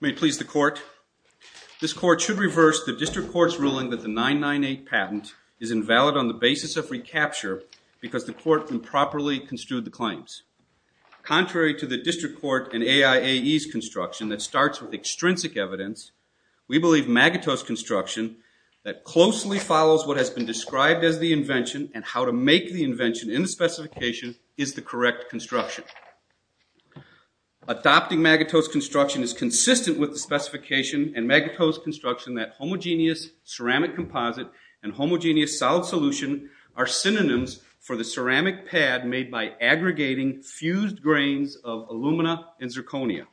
May it please the Court, This Court should reverse the District Court's ruling that the 998 patent is invalid on the basis of recapture because the Court improperly construed the claims. Contrary to the District Court and AIAE's construction that starts with extrinsic evidence, we believe Magotteaux's construction that closely follows what has been described as the invention and how to make the invention in the specification is the correct construction. Adopting Magotteaux's construction is consistent with the specification and Magotteaux's construction that homogeneous ceramic composite and homogeneous solid solution are synonyms for the ceramic pad made by aggregating fused grains of alumina and zirconia.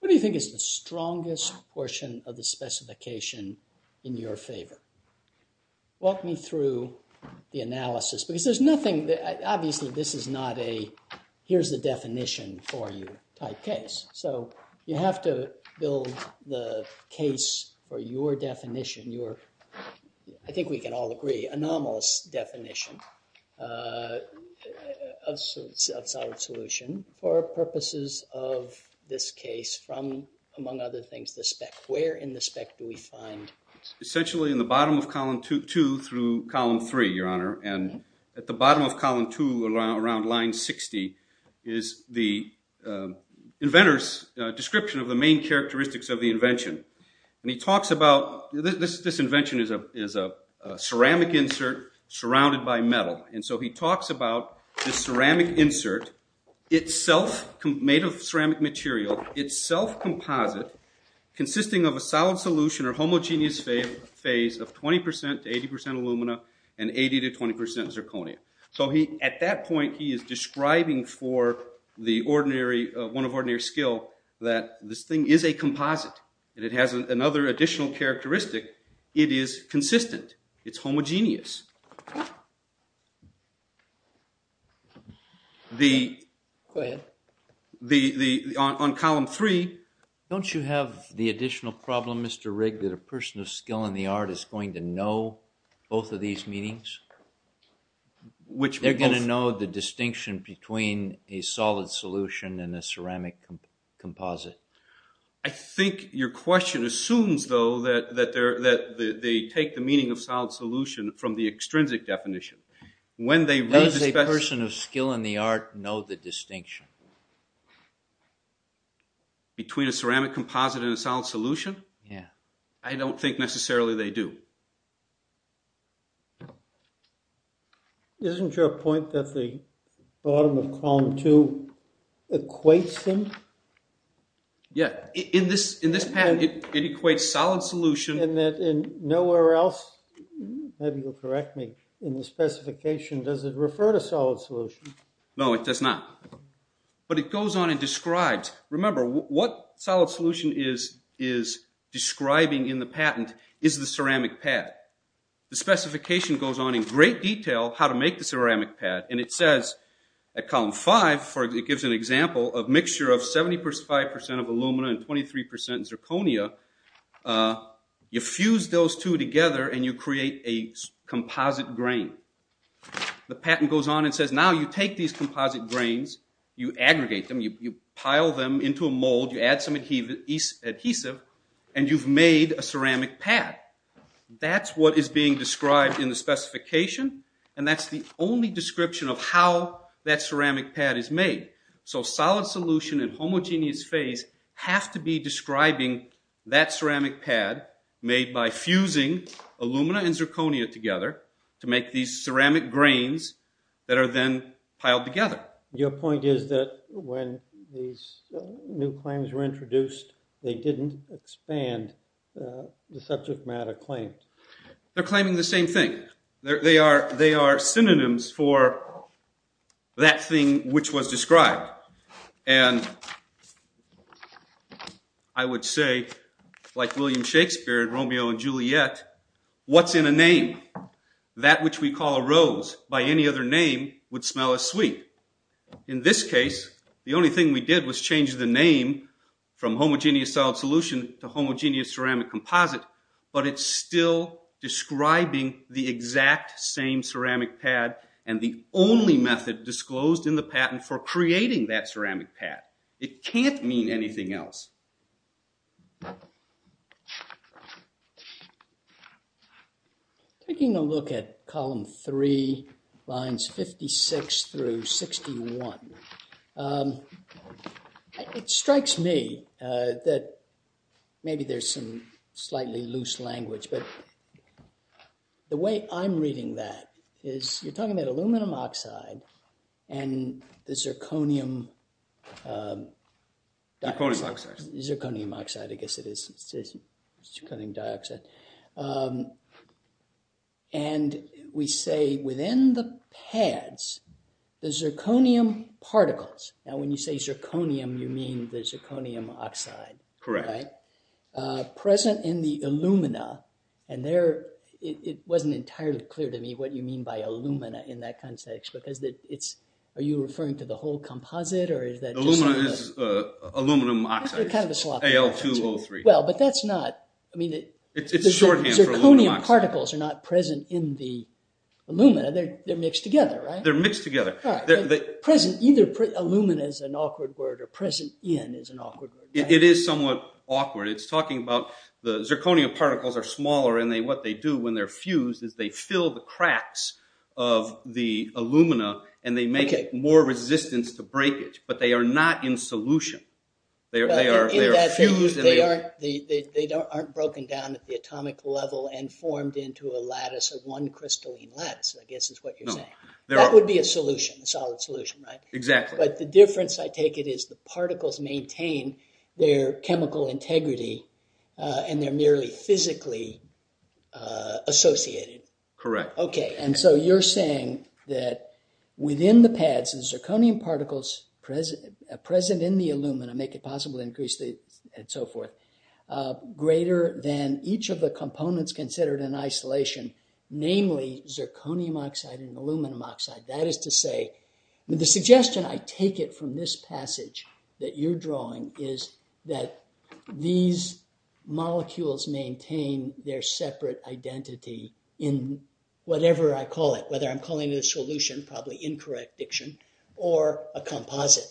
What do you think is the strongest portion of the specification in your favor? Walk me through the analysis because there's nothing, obviously this is not a here's the definition for you type case. So you have to build the case for your definition. I think we can all agree anomalous definition of solid solution for purposes of this case from among other things the spec. Where in the spec do we find? Essentially in the bottom of column 2 through column 3, Your Honor, and at the bottom of column 2 around line 60 is the inventor's description of the main ceramic insert surrounded by metal and so he talks about the ceramic insert itself made of ceramic material itself composite consisting of a solid solution or homogeneous phase of 20% to 80% alumina and 80 to 20% zirconia. So he at that point he is describing for the ordinary one of ordinary skill that this thing is a composite and it has another additional characteristic. It is homogeneous. Go ahead. On column 3. Don't you have the additional problem Mr. Rigg that a person of skill in the art is going to know both of these meanings? Which? They're going to know the distinction between a solid solution and a ceramic composite. I think your question assumes though that they take the meaning of solid solution from the extrinsic definition. When they read the spec. Does a person of skill in the art know the distinction? Between a ceramic composite and a solid solution? Yeah. I don't think necessarily they do. Isn't your point that the bottom of solid solution. And that in nowhere else maybe you'll correct me in the specification does it refer to solid solution? No it does not. But it goes on and describes. Remember what solid solution is describing in the patent is the ceramic pad. The specification goes on in great detail how to make the ceramic pad and it says at column 5 for it gives an example of mixture of 75% of you fuse those two together and you create a composite grain. The patent goes on and says now you take these composite grains, you aggregate them, you pile them into a mold, you add some adhesive and you've made a ceramic pad. That's what is being described in the specification and that's the only description of how that ceramic pad is made. So solid solution and homogeneous phase have to be describing that ceramic pad made by fusing alumina and zirconia together to make these ceramic grains that are then piled together. Your point is that when these new claims were introduced they didn't expand the subject matter claims. They're claiming the same thing. They are synonyms for that thing which was described and I would say like William Shakespeare, Romeo and Juliet, what's in a name? That which we call a rose by any other name would smell as sweet. In this case the only thing we did was change the name from homogeneous solid solution to homogeneous same ceramic pad and the only method disclosed in the patent for creating that ceramic pad. It can't mean anything else. Taking a look at column three lines 56 through 61, it strikes me that maybe there's some slightly loose language but the way I'm reading that is you're talking about aluminum oxide and the zirconium dioxide. We say within the pads the zirconium particles. Now when you say zirconium you mean the zirconium oxide. Correct. Present in the alumina and there it wasn't entirely clear to me what you mean by alumina in that context because are you referring to the whole composite? Aluminum oxide, Al2O3. Zirconium particles are not present in the alumina, they're mixed together. Either alumina is an awkward word or present in is an awkward word. It is somewhat awkward. It's talking about the zirconium particles are smaller and what they do when they're fused is they fill the cracks of the alumina and they make it more resistance to breakage but they are not in solution. They aren't broken down at the atomic level and formed into a lattice of one crystalline lattice I guess is what you're saying. That would be a solution, a solid solution right? Exactly. But the difference I take it is the particles maintain their chemical integrity and they're merely physically associated. Correct. Okay and so you're saying that within the pads the zirconium particles present in the alumina make it possible to increase the and so forth greater than each of the components considered in isolation, namely zirconium oxide and aluminum oxide. That is to say the suggestion I take it from this passage that you're drawing is that these molecules maintain their separate identity in whatever I call it. Whether I'm calling it a solution, probably incorrect diction, or a composite.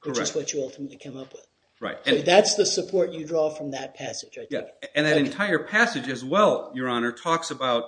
Correct. Which is what you ultimately came up with. Right. That's the support you draw from that passage. Yeah and that entire passage as well your honor talks about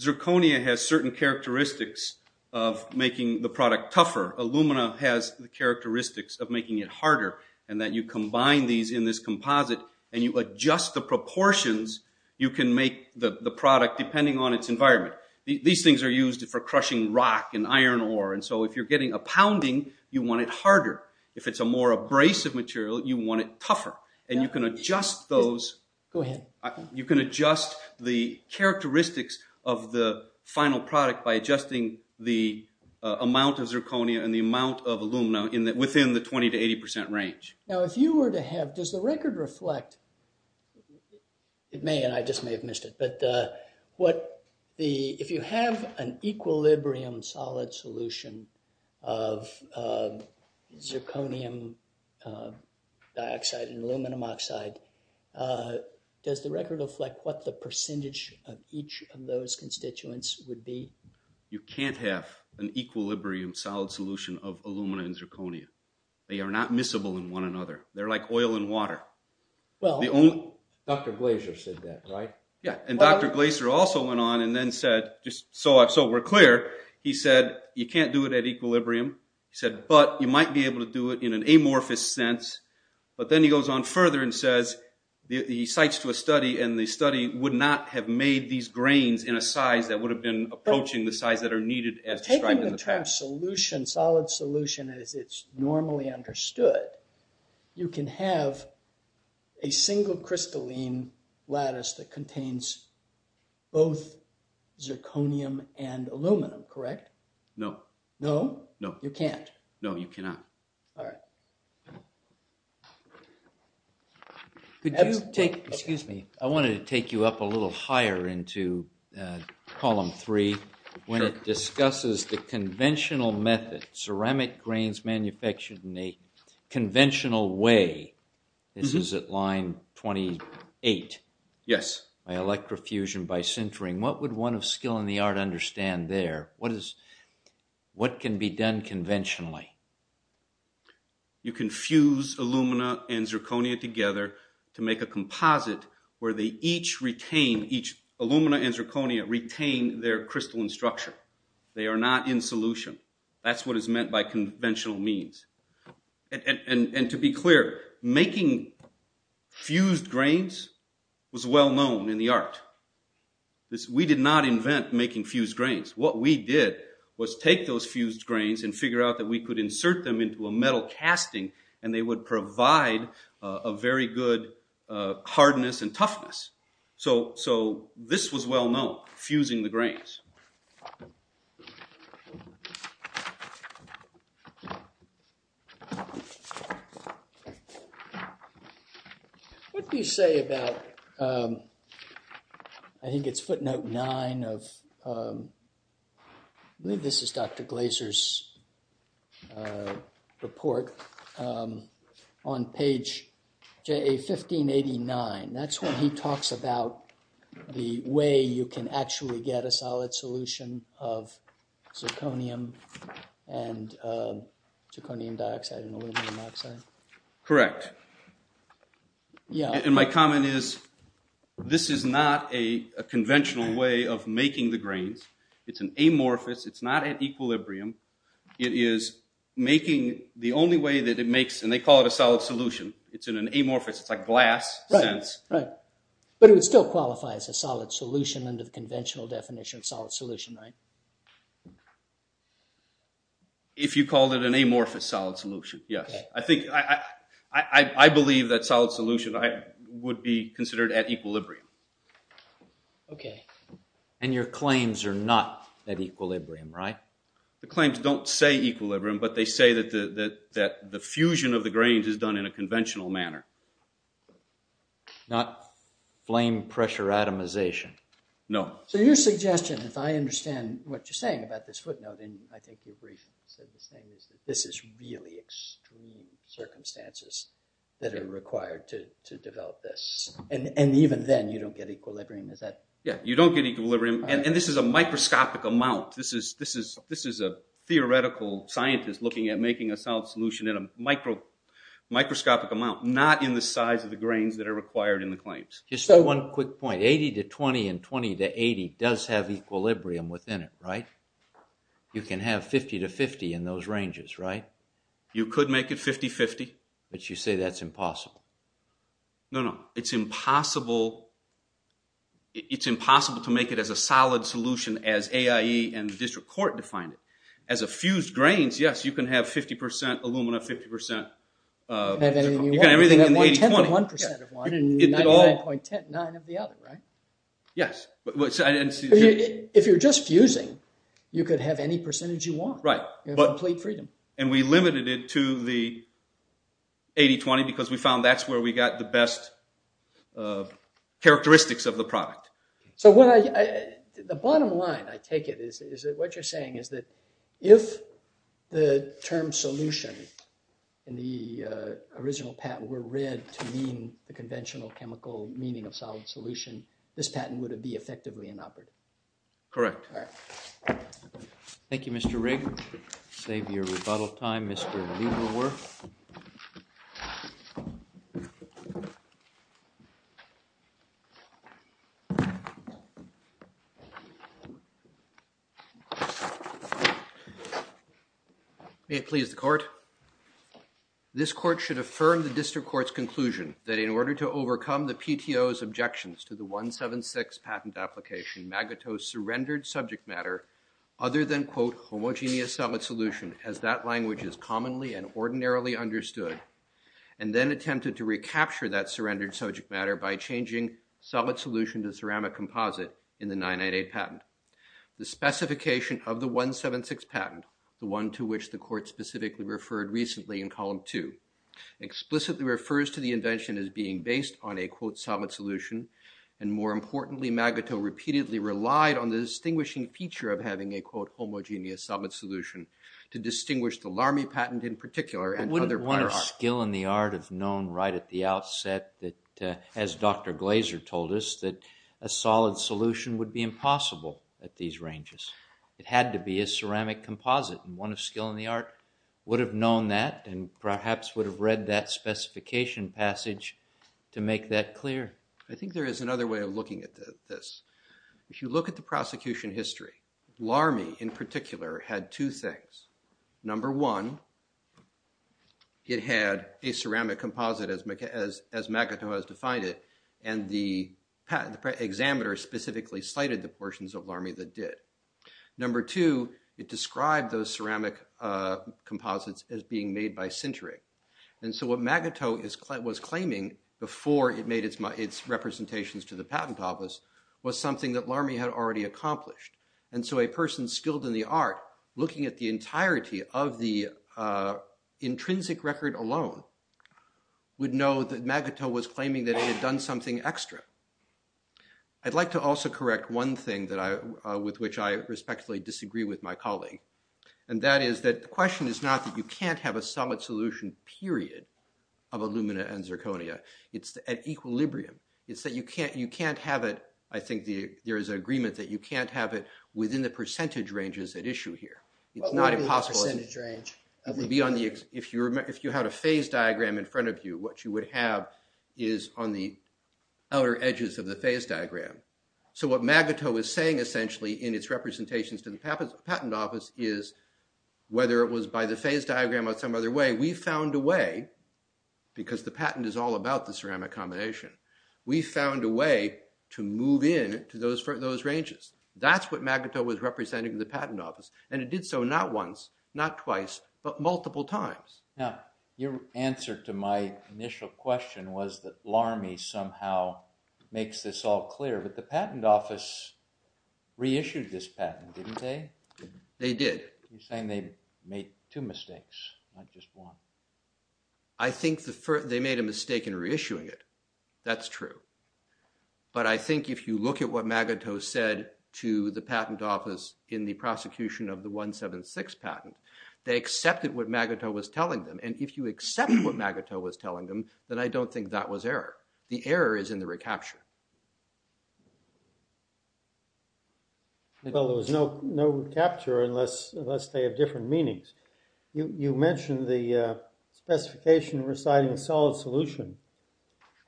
zirconia has certain characteristics of making the product tougher. Alumina has the characteristics of making it harder and that you combine these in this composite and you adjust the proportions you can make the product depending on its environment. These things are used for crushing rock and iron ore and so if you're getting a pounding you want it harder. If it's a more abrasive material you want it tougher and you can adjust those. Go ahead. You can adjust the characteristics of the final product by adjusting the amount of zirconia and the amount of alumina in that within the 20 to 80 percent range. Now if you were to have, does the record reflect, it may and I just may have dioxide and aluminum oxide, does the record reflect what the percentage of each of those constituents would be? You can't have an equilibrium solid solution of alumina and zirconia. They are not miscible in one another. They're like oil and water. Well, Dr. Glaser said that right? Yeah and Dr. Glaser also went on and then said, just so we're clear, he said you can't do it at an amorphous sense but then he goes on further and says he cites to a study and the study would not have made these grains in a size that would have been approaching the size that are needed as described in the past. Taking the term solid solution as it's normally understood, you can have a single crystalline lattice that contains both zirconium and aluminum, correct? No. No? No. You can't. No, you cannot. Could you take, excuse me, I wanted to take you up a little higher into column three when it discusses the conventional method, ceramic grains manufactured in a conventional way. This is at line 28. Yes. By electrofusion, by sintering. What would one of skill in the art understand there? What can be done conventionally? You can fuse alumina and zirconia together to make a composite where they each retain, each alumina and zirconia retain their crystalline structure. They are not in solution. That's what is meant by conventional means. And to be clear, making fused grains. What we did was take those fused grains and figure out that we could insert them into a metal casting and they would provide a very good hardness and toughness. So this was well known, fusing the grains. What do you say about, I think it's footnote nine of, I believe this is Dr. get a solid solution of zirconium and zirconium dioxide and aluminum oxide? Correct. Yeah. And my comment is, this is not a conventional way of making the grains. It's an amorphous. It's not at equilibrium. It is making the only way that it makes, and they call it a solid solution. It's in amorphous. It's like glass. Right. But it would still qualify as a solid solution under the conventional definition of solid solution, right? If you called it an amorphous solid solution, yes. I think, I believe that solid solution would be considered at equilibrium. Okay. And your claims are not at equilibrium, right? The claims don't say equilibrium, but they say that the fusion of the grains is at equilibrium in a conventional manner. Not flame pressure atomization. No. So your suggestion, if I understand what you're saying about this footnote, and I think you've briefly said the same, is that this is really extreme circumstances that are required to develop this. And even then you don't get equilibrium, is that? Yeah. You don't get equilibrium. And this is a microscopic amount. This is a theoretical scientist looking at making a solid solution in microscopic amount. Not in the size of the grains that are required in the claims. Just one quick point. 80 to 20 and 20 to 80 does have equilibrium within it, right? You can have 50 to 50 in those ranges, right? You could make it 50-50. But you say that's impossible. No, no. It's impossible. It's impossible to make it as a solid solution as AIE and the district court defined it. As a fused grains, yes, you can have 50% alumina, 50%... You can have anything you want. You can have 1% of one and 99.9% of the other, right? Yes. If you're just fusing, you could have any percentage you want. Right. Complete freedom. And we limited it to the 80-20 because we found that's where we got the best characteristics of the product. So the bottom line, I take it, is that what you're saying is that if the term solution in the original patent were read to mean the conventional chemical meaning of solid solution, this patent would have been effectively inoperative. Correct. Thank you, Mr. Rigg. Save your rebuttal time, Mr. Leiberwerf. May it please the court. This court should affirm the district court's conclusion that in order to overcome the PTO's objections to the 176 patent application, Magato surrendered subject matter other than, quote, homogeneous solid solution as that language is commonly and ordinarily understood and then attempted to recapture that surrendered subject matter by changing solid solution to ceramic composite in the 99.8 patent. The specification of the 176 patent, the one to which the court specifically referred recently in column two, explicitly refers to the invention as being based on a, quote, solid solution and more importantly Magato repeatedly relied on the distinguishing feature of having a, quote, homogeneous solid solution to distinguish the LARMI patent in particular. Wouldn't one of skill in the art have known right at the outset that, as Dr. Glazer told us, that a solid solution would be impossible at these ranges. It had to be a ceramic composite and one of skill in the art would have known that and perhaps would have read that specification passage to make that clear. I think there is another way of looking at this. If you look at the prosecution history, LARMI in particular had two things. Number one, it had a ceramic composite as Magato has defined it and the examiner specifically cited the portions of LARMI that did. Number two, it described those ceramic composites as being made by sintering and so what Magato was claiming before it made its representations to the patent office was something that LARMI had already accomplished and so a person skilled in the art looking at the entirety of the intrinsic record alone would know that Magato was claiming that he had done something extra. I'd like to also correct one thing that I, with which I respectfully disagree with my colleague and that is that the question is not that you can't have a solid solution period of Illumina and Zirconia, it's at equilibrium. It's that you can't have it, I think there is an agreement that you can't have it within the percentage ranges at issue here. It's not impossible. It would be on the, if you had a phase diagram in front of you, what you would have is on the outer edges of the phase diagram. So what Magato is saying essentially in its representations to the patent office is whether it was by the phase diagram or some other way, we found a way, because the patent is all about the ceramic combination, we found a way to move in to those ranges. That's what Magato was representing to the patent office and it did so not once, not twice, but multiple times. Now your answer to my initial question was that LARMI somehow makes this all clear, but the patent office reissued this patent, didn't they? They did. You're saying they made two mistakes, not just one. I think they made a mistake in reissuing it, that's true, but I think if you look at what Magato said to the patent office in the prosecution of the 176 patent, they accepted what Magato was telling them and if you accept what Magato was telling them, then I don't think that was error. The error is in the recapture. Well, there was no recapture unless they have different meanings. You mentioned the specification reciting solid solution,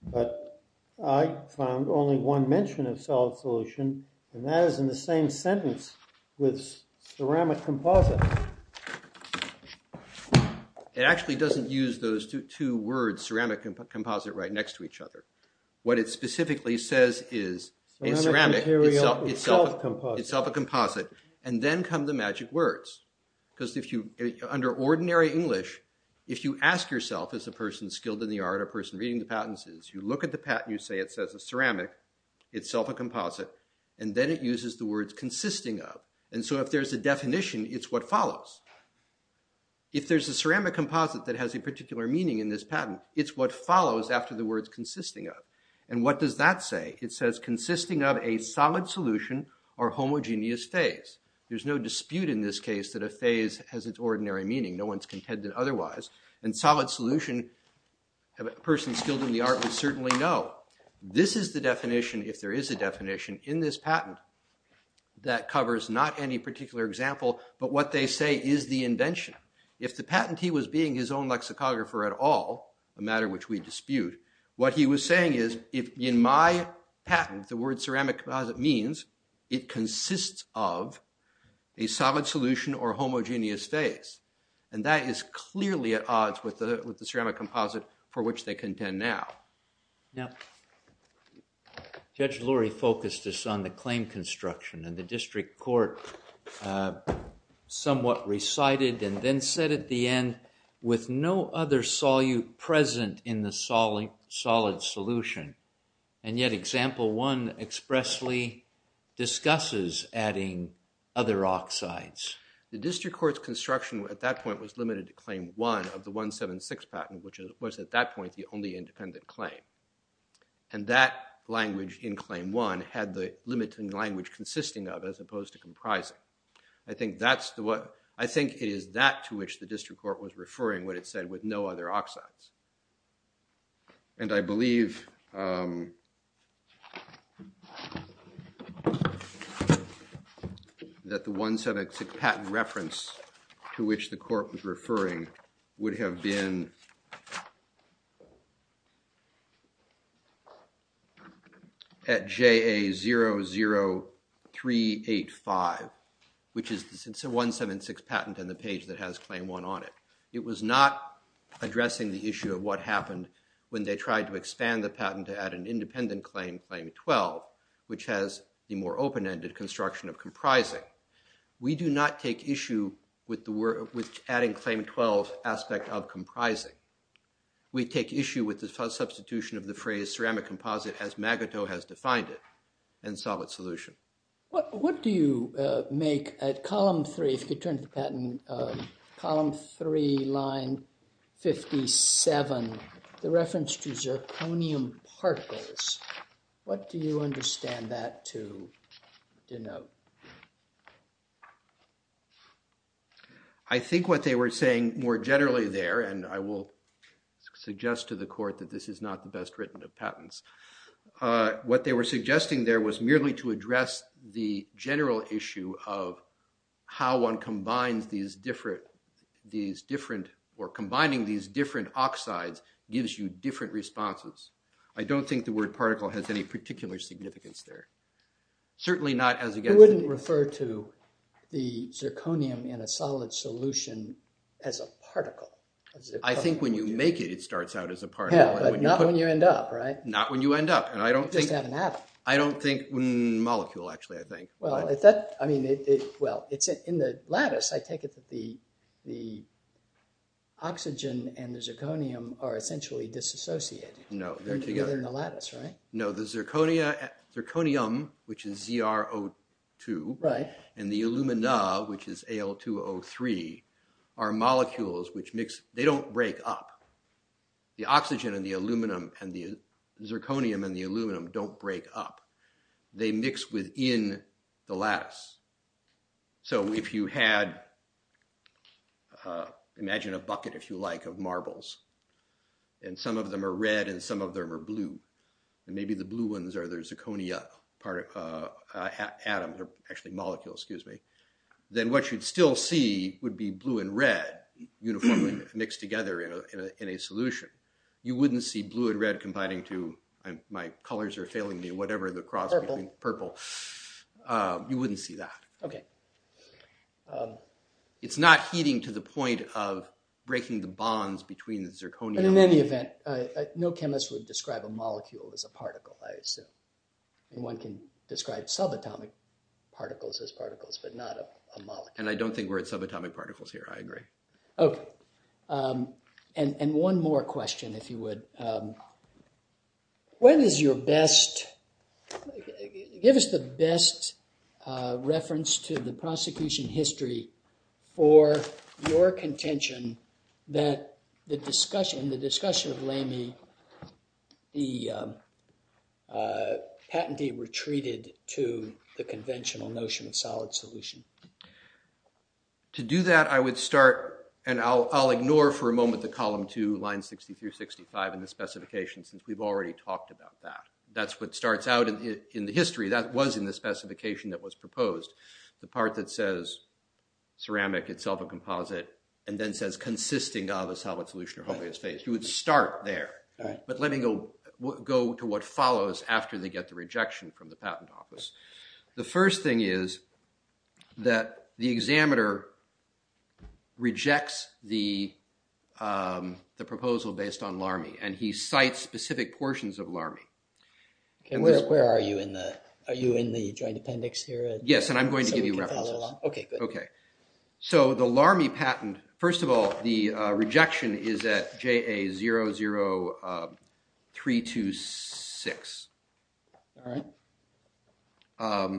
but I found only one mention of solid solution and that is in the same sentence with ceramic composite. It actually doesn't use those two words ceramic and composite right next to each other. What it specifically says is a ceramic itself a composite and then come the magic words because if you under ordinary English, if you ask yourself as a person skilled in the art, a person reading the patents is, you look at the patent you say it says a ceramic itself a composite and then it uses the words consisting of and so if there's a definition, it's what follows. If there's a ceramic composite that has a particular meaning in this patent, it's what follows after the words consisting of and what does that say? It says consisting of a solid solution or homogeneous phase. There's no dispute in this case that a phase has its ordinary meaning. No one's contended otherwise and solid solution, a person skilled in the art would certainly know. This is the definition if there is a definition in this patent that covers not any particular example, but what they say is the invention. If the patentee was being his own lexicographer at all, a matter which we dispute, what he was saying is if in my patent the word ceramic composite means it consists of a solid solution or homogeneous phase and that is clearly at odds with the ceramic composite for which they contend now. Now Judge Lurie focused us on the other solute present in the solid solution and yet example one expressly discusses adding other oxides. The district court's construction at that point was limited to claim one of the 176 patent which was at that point the only independent claim and that language in claim one had the limiting language consisting of as opposed to comprising. I think it is that to which the no other oxides and I believe that the 176 patent reference to which the court was referring would have been at JA00385 which is the 176 patent and the page that has claim one on it. It was not addressing the issue of what happened when they tried to expand the patent to add an independent claim, claim 12, which has the more open-ended construction of comprising. We do not take issue with adding claim 12 aspect of comprising. We take issue with the substitution of the phrase ceramic composite as Magato has defined it and solid solution. What do you make at column three if you turn to patent column three line 57 the reference to zirconium particles? What do you understand that to denote? I think what they were saying more generally there and I will suggest to the court that this is not the best written of patents. What they were suggesting there was merely to address the general issue of how one combines these different or combining these different oxides gives you different responses. I don't think the word particle has any particular significance there. You wouldn't refer to the zirconium in a solid solution as a particle. I think when you make it, it starts out as a particle. Yeah, but not when you end up, right? Not when you end up. You just add an atom. I don't think molecule actually, I think. Well, it's in the lattice. I take it that the oxygen and the zirconium are essentially disassociated. No, they're together in the lattice, right? No, the zirconium, which is ZrO2, and the alumina, which is Al2O3, are molecules which mix. They don't break up. The oxygen and the aluminum and the zirconium and the aluminum don't break up. They mix within the lattice. So if you had, imagine a bucket, if you like, of marbles, and some of them are red and some of them are blue, and maybe the blue ones are the zirconia part of atoms, or actually molecules, then what you'd still see would be blue and red uniformly mixed together in a solution. You wouldn't see blue and red combining to, my colors are failing me, whatever the cross between purple. You wouldn't see that. It's not heating to the point of breaking the bonds between the zirconia. But in any event, no chemist would describe a molecule as a particle, I assume. And one can describe subatomic particles as particles, but not a molecule. And I don't think we're at subatomic particles here, I agree. Okay. And one more question, if you would. When is your best, give us the best reference to the prosecution history for your contention that the discussion, in the discussion of Lamy, the patentee retreated to the conventional notion of solid solution? To do that, I would start, and I'll ignore for a moment the column two, line 60 through 65 in the specification, since we've already talked about that. That's what starts out in the history, that was in the specification that was proposed. The part that says ceramic, itself a composite, and then says consisting of a solid solution or homogeneous phase. You would start there. But let me go to what follows after they get the rejection from the patent office. The first thing is that the examiner rejects the proposal based on Lamy, and he cites specific portions of Lamy. And where are you in the, are you in the joint appendix here? Yes, and I'm going to give you references. Okay, good. Okay. So the Lamy patent, first of all, the rejection is at JA00326. All right.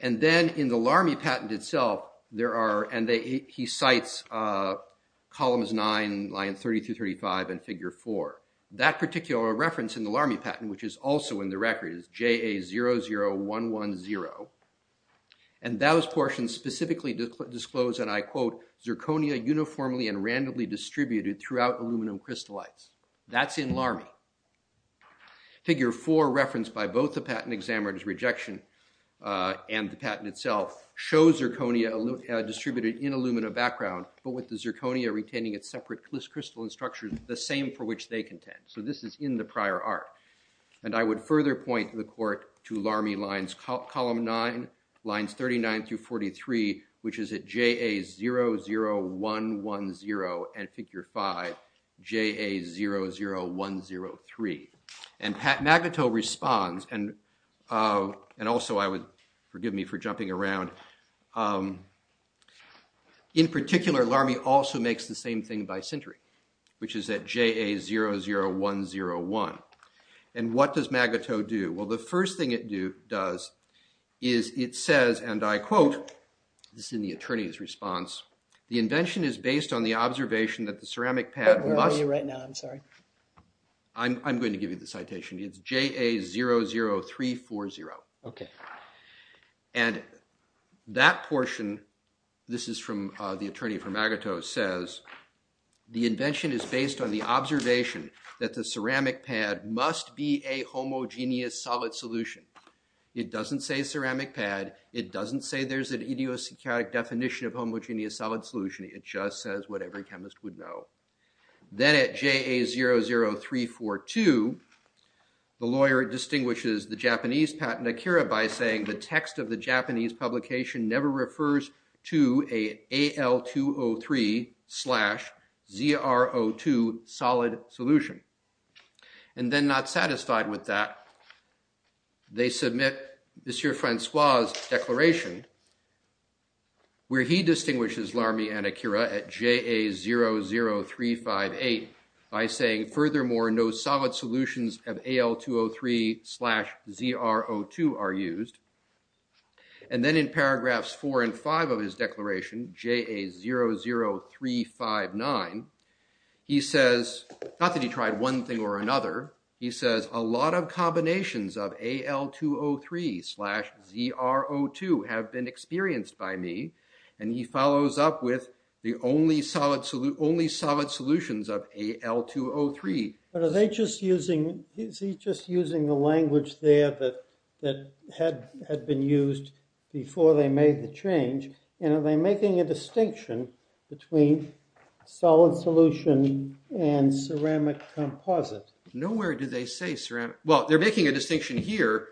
And then in the Lamy patent itself, there are, and he cites columns nine, line 30 through 35, and figure four. That particular reference in the Lamy patent, which is also in the record, is JA00110. And those portions specifically disclose, and I quote, zirconia uniformly and randomly distributed throughout aluminum crystallites. That's in Lamy. Figure four, referenced by both the patent examiner's rejection and the patent itself, shows zirconia distributed in aluminum background, but with the zirconia retaining its separate crystalline structure, the same for which they contend. So this is in the prior art. And I would further point the court to Lamy lines column nine, lines 39 through 43, which is at JA00110 and figure five, JA00103. And Pat Magneto responds, and also I would, forgive me for jumping around. In particular, Lamy also makes the same thing by Sintry, which is at JA00101. And what does Magneto do? Well, the first thing it does is it says, and I quote, this is in the attorney's response, the invention is based on the observation that the ceramic pad must- Where are you right now? I'm sorry. I'm going to give you the citation. It's JA00340. Okay. And that portion, this is from the attorney for Magneto, says, the invention is based on the observation that the ceramic pad must be a homogeneous solid solution. It doesn't say ceramic pad. It doesn't say there's an idiosyncratic definition of homogeneous solid solution. It just says what every chemist would know. Then at JA00342, the lawyer distinguishes the Japanese Pat Nakira by saying, the text of the Japanese publication never refers to a AL203 slash ZRO2 solid solution. And then not satisfied with that, they submit Monsieur Francois' declaration where he distinguishes Lamy and Nakira at JA00358 by saying, furthermore, no solid solutions of AL203 slash ZRO2 are used. And then in paragraphs four and five of his declaration, JA00359, he says, not that he tried one thing or another. He says, a lot of combinations of AL203 slash ZRO2 have been experienced by me. And he follows up with the only solid solutions of AL203. But is he just using the language there that had been used before they made the change? And are they making a distinction between solid solution and ceramic composite? Nowhere did they say ceramic. Well, they're making a distinction here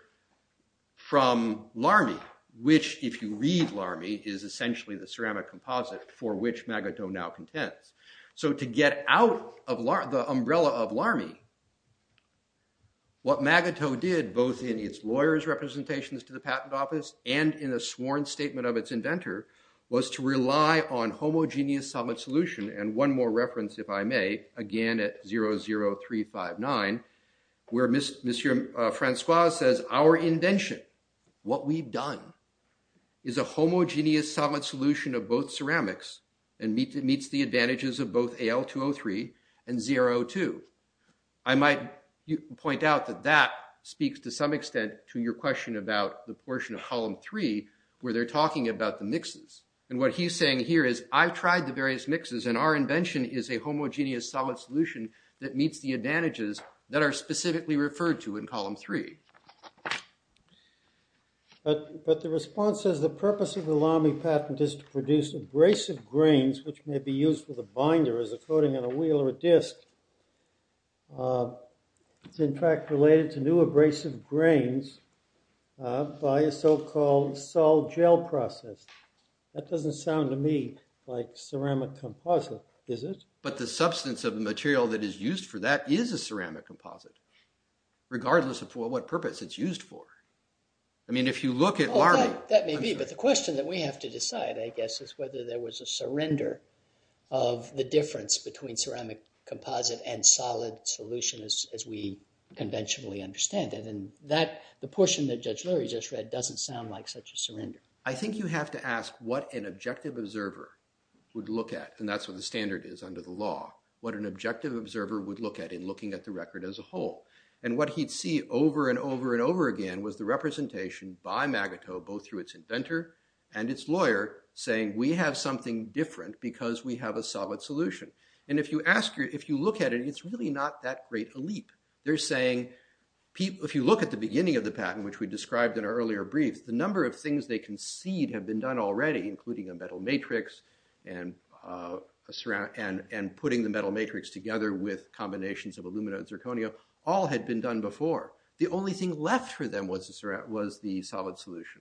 from Lamy, which, if you read Lamy, is essentially the ceramic composite for which Magoto now contends. So to get out of the umbrella of Lamy, what Magoto did both in its lawyer's representations to the patent office and in a sworn statement of its inventor was to rely on homogeneous solid solution. And one more reference, if I may, again at JA00359, where Monsieur Francois says, our invention, what we've done is a homogeneous solid solution of both ceramics and meets the advantages of both AL203 and ZRO2. I might point out that that speaks to some extent to your question about the portion of column three where they're talking about the mixes. And what he's saying here is, I've tried the various mixes and our invention is a homogeneous solid solution that meets the advantages that are specifically referred to in column three. But the response says, the purpose of the Lamy patent is to produce abrasive grains, which may be used with a binder as a coating on a wheel or a disc. It's in fact related to new abrasive grains by a so-called Sol-gel process. That doesn't sound to me like ceramic composite, is it? But the substance of the material that is used for that is a ceramic composite. Regardless of for what purpose it's used for. I mean, if you look at Lamy. That may be, but the question that we have to decide, I guess, is whether there was a surrender of the difference between ceramic composite and solid solution as we conventionally understand it. And that the portion that Judge Lurie just read doesn't sound like such a surrender. I think you have to ask what an objective observer would look at. And that's what the standard is under the law. What an objective observer would look at in looking at the record as a whole. And what he'd see over and over and over again was the representation by Magato, both through its inventor and its lawyer, saying we have something different because we have a solid solution. And if you look at it, it's really not that great a leap. They're saying, if you look at the beginning of the patent, which we described in our earlier brief, the number of things they concede have been done already, including a metal matrix and putting the metal matrix together with combinations of alumina and zirconia, all had been done before. The only thing left for them was the solid solution.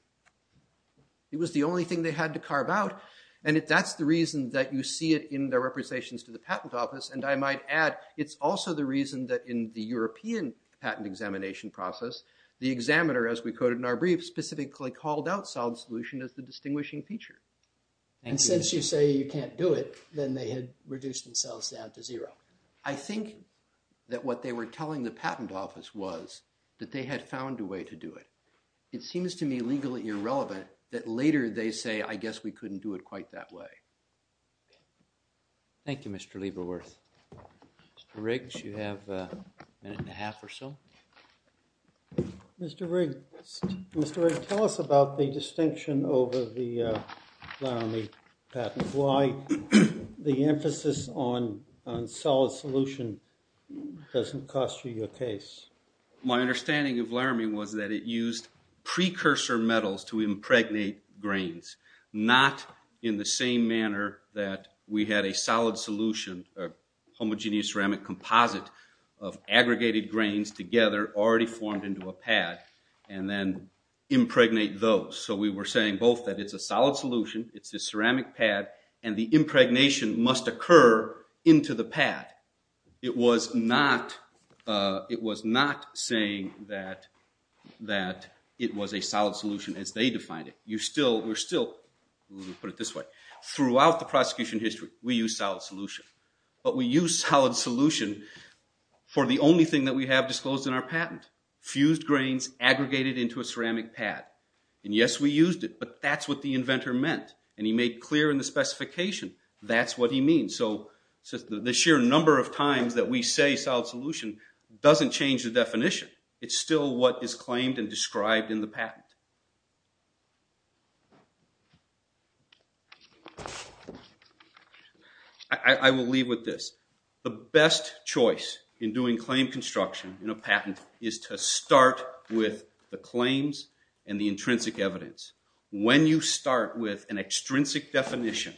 It was the only thing they had to carve out. And that's the reason that you see it in their representations to the patent office. And I might add, it's also the reason that in the European patent examination process, the examiner, as we quoted in our brief, specifically called out solid solution as the distinguishing feature. And since you say you can't do it, then they had reduced themselves down to zero. I think that what they were telling the patent office was that they had found a way to do it. It seems to me legally irrelevant that later they say, I guess we couldn't do it quite that way. Thank you, Mr. Lieberworth. Mr. Riggs, you have a minute and a half or so. Mr. Riggs, Mr. Riggs, tell us about the distinction over the Laramie patent. Why the emphasis on solid solution doesn't cost you your case? My understanding of Laramie was that it used precursor metals to impregnate grains, not in the same manner that we had a solid solution, homogeneous ceramic composite of aggregated grains together, already formed into a pad, and then impregnate those. So we were saying both that it's a solid solution, it's a ceramic pad, and the impregnation must occur into the pad. It was not saying that it was a solid solution as they defined it. You still, we're still, let me put it this way, throughout the prosecution history, we use solid solution. But we use solid solution for the only thing that we have disclosed in our patent, fused grains aggregated into a ceramic pad. And yes, we used it, but that's what the inventor meant. And he made clear in the specification, that's what he means. So the sheer number of times that we say solid solution doesn't change the definition. It's still what is claimed and described in the patent. I will leave with this. The best choice in doing claim construction in a patent is to start with the claims and the intrinsic evidence. When you start with an extrinsic definition,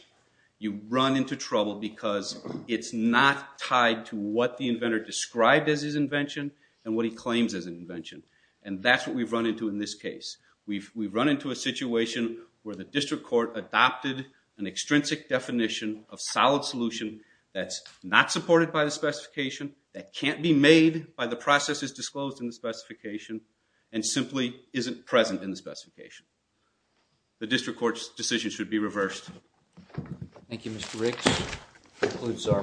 you run into trouble because it's not tied to what the inventor described as his invention, and what he claims as an invention. And that's what we've run into in this case. We've run into a situation where the district court adopted an extrinsic definition of solid solution that's not supported by the specification, that can't be made by the processes disclosed in the specification, and simply isn't present in the specification. The district court's decision should be reversed. Thank you, Mr. Riggs. That concludes our morning.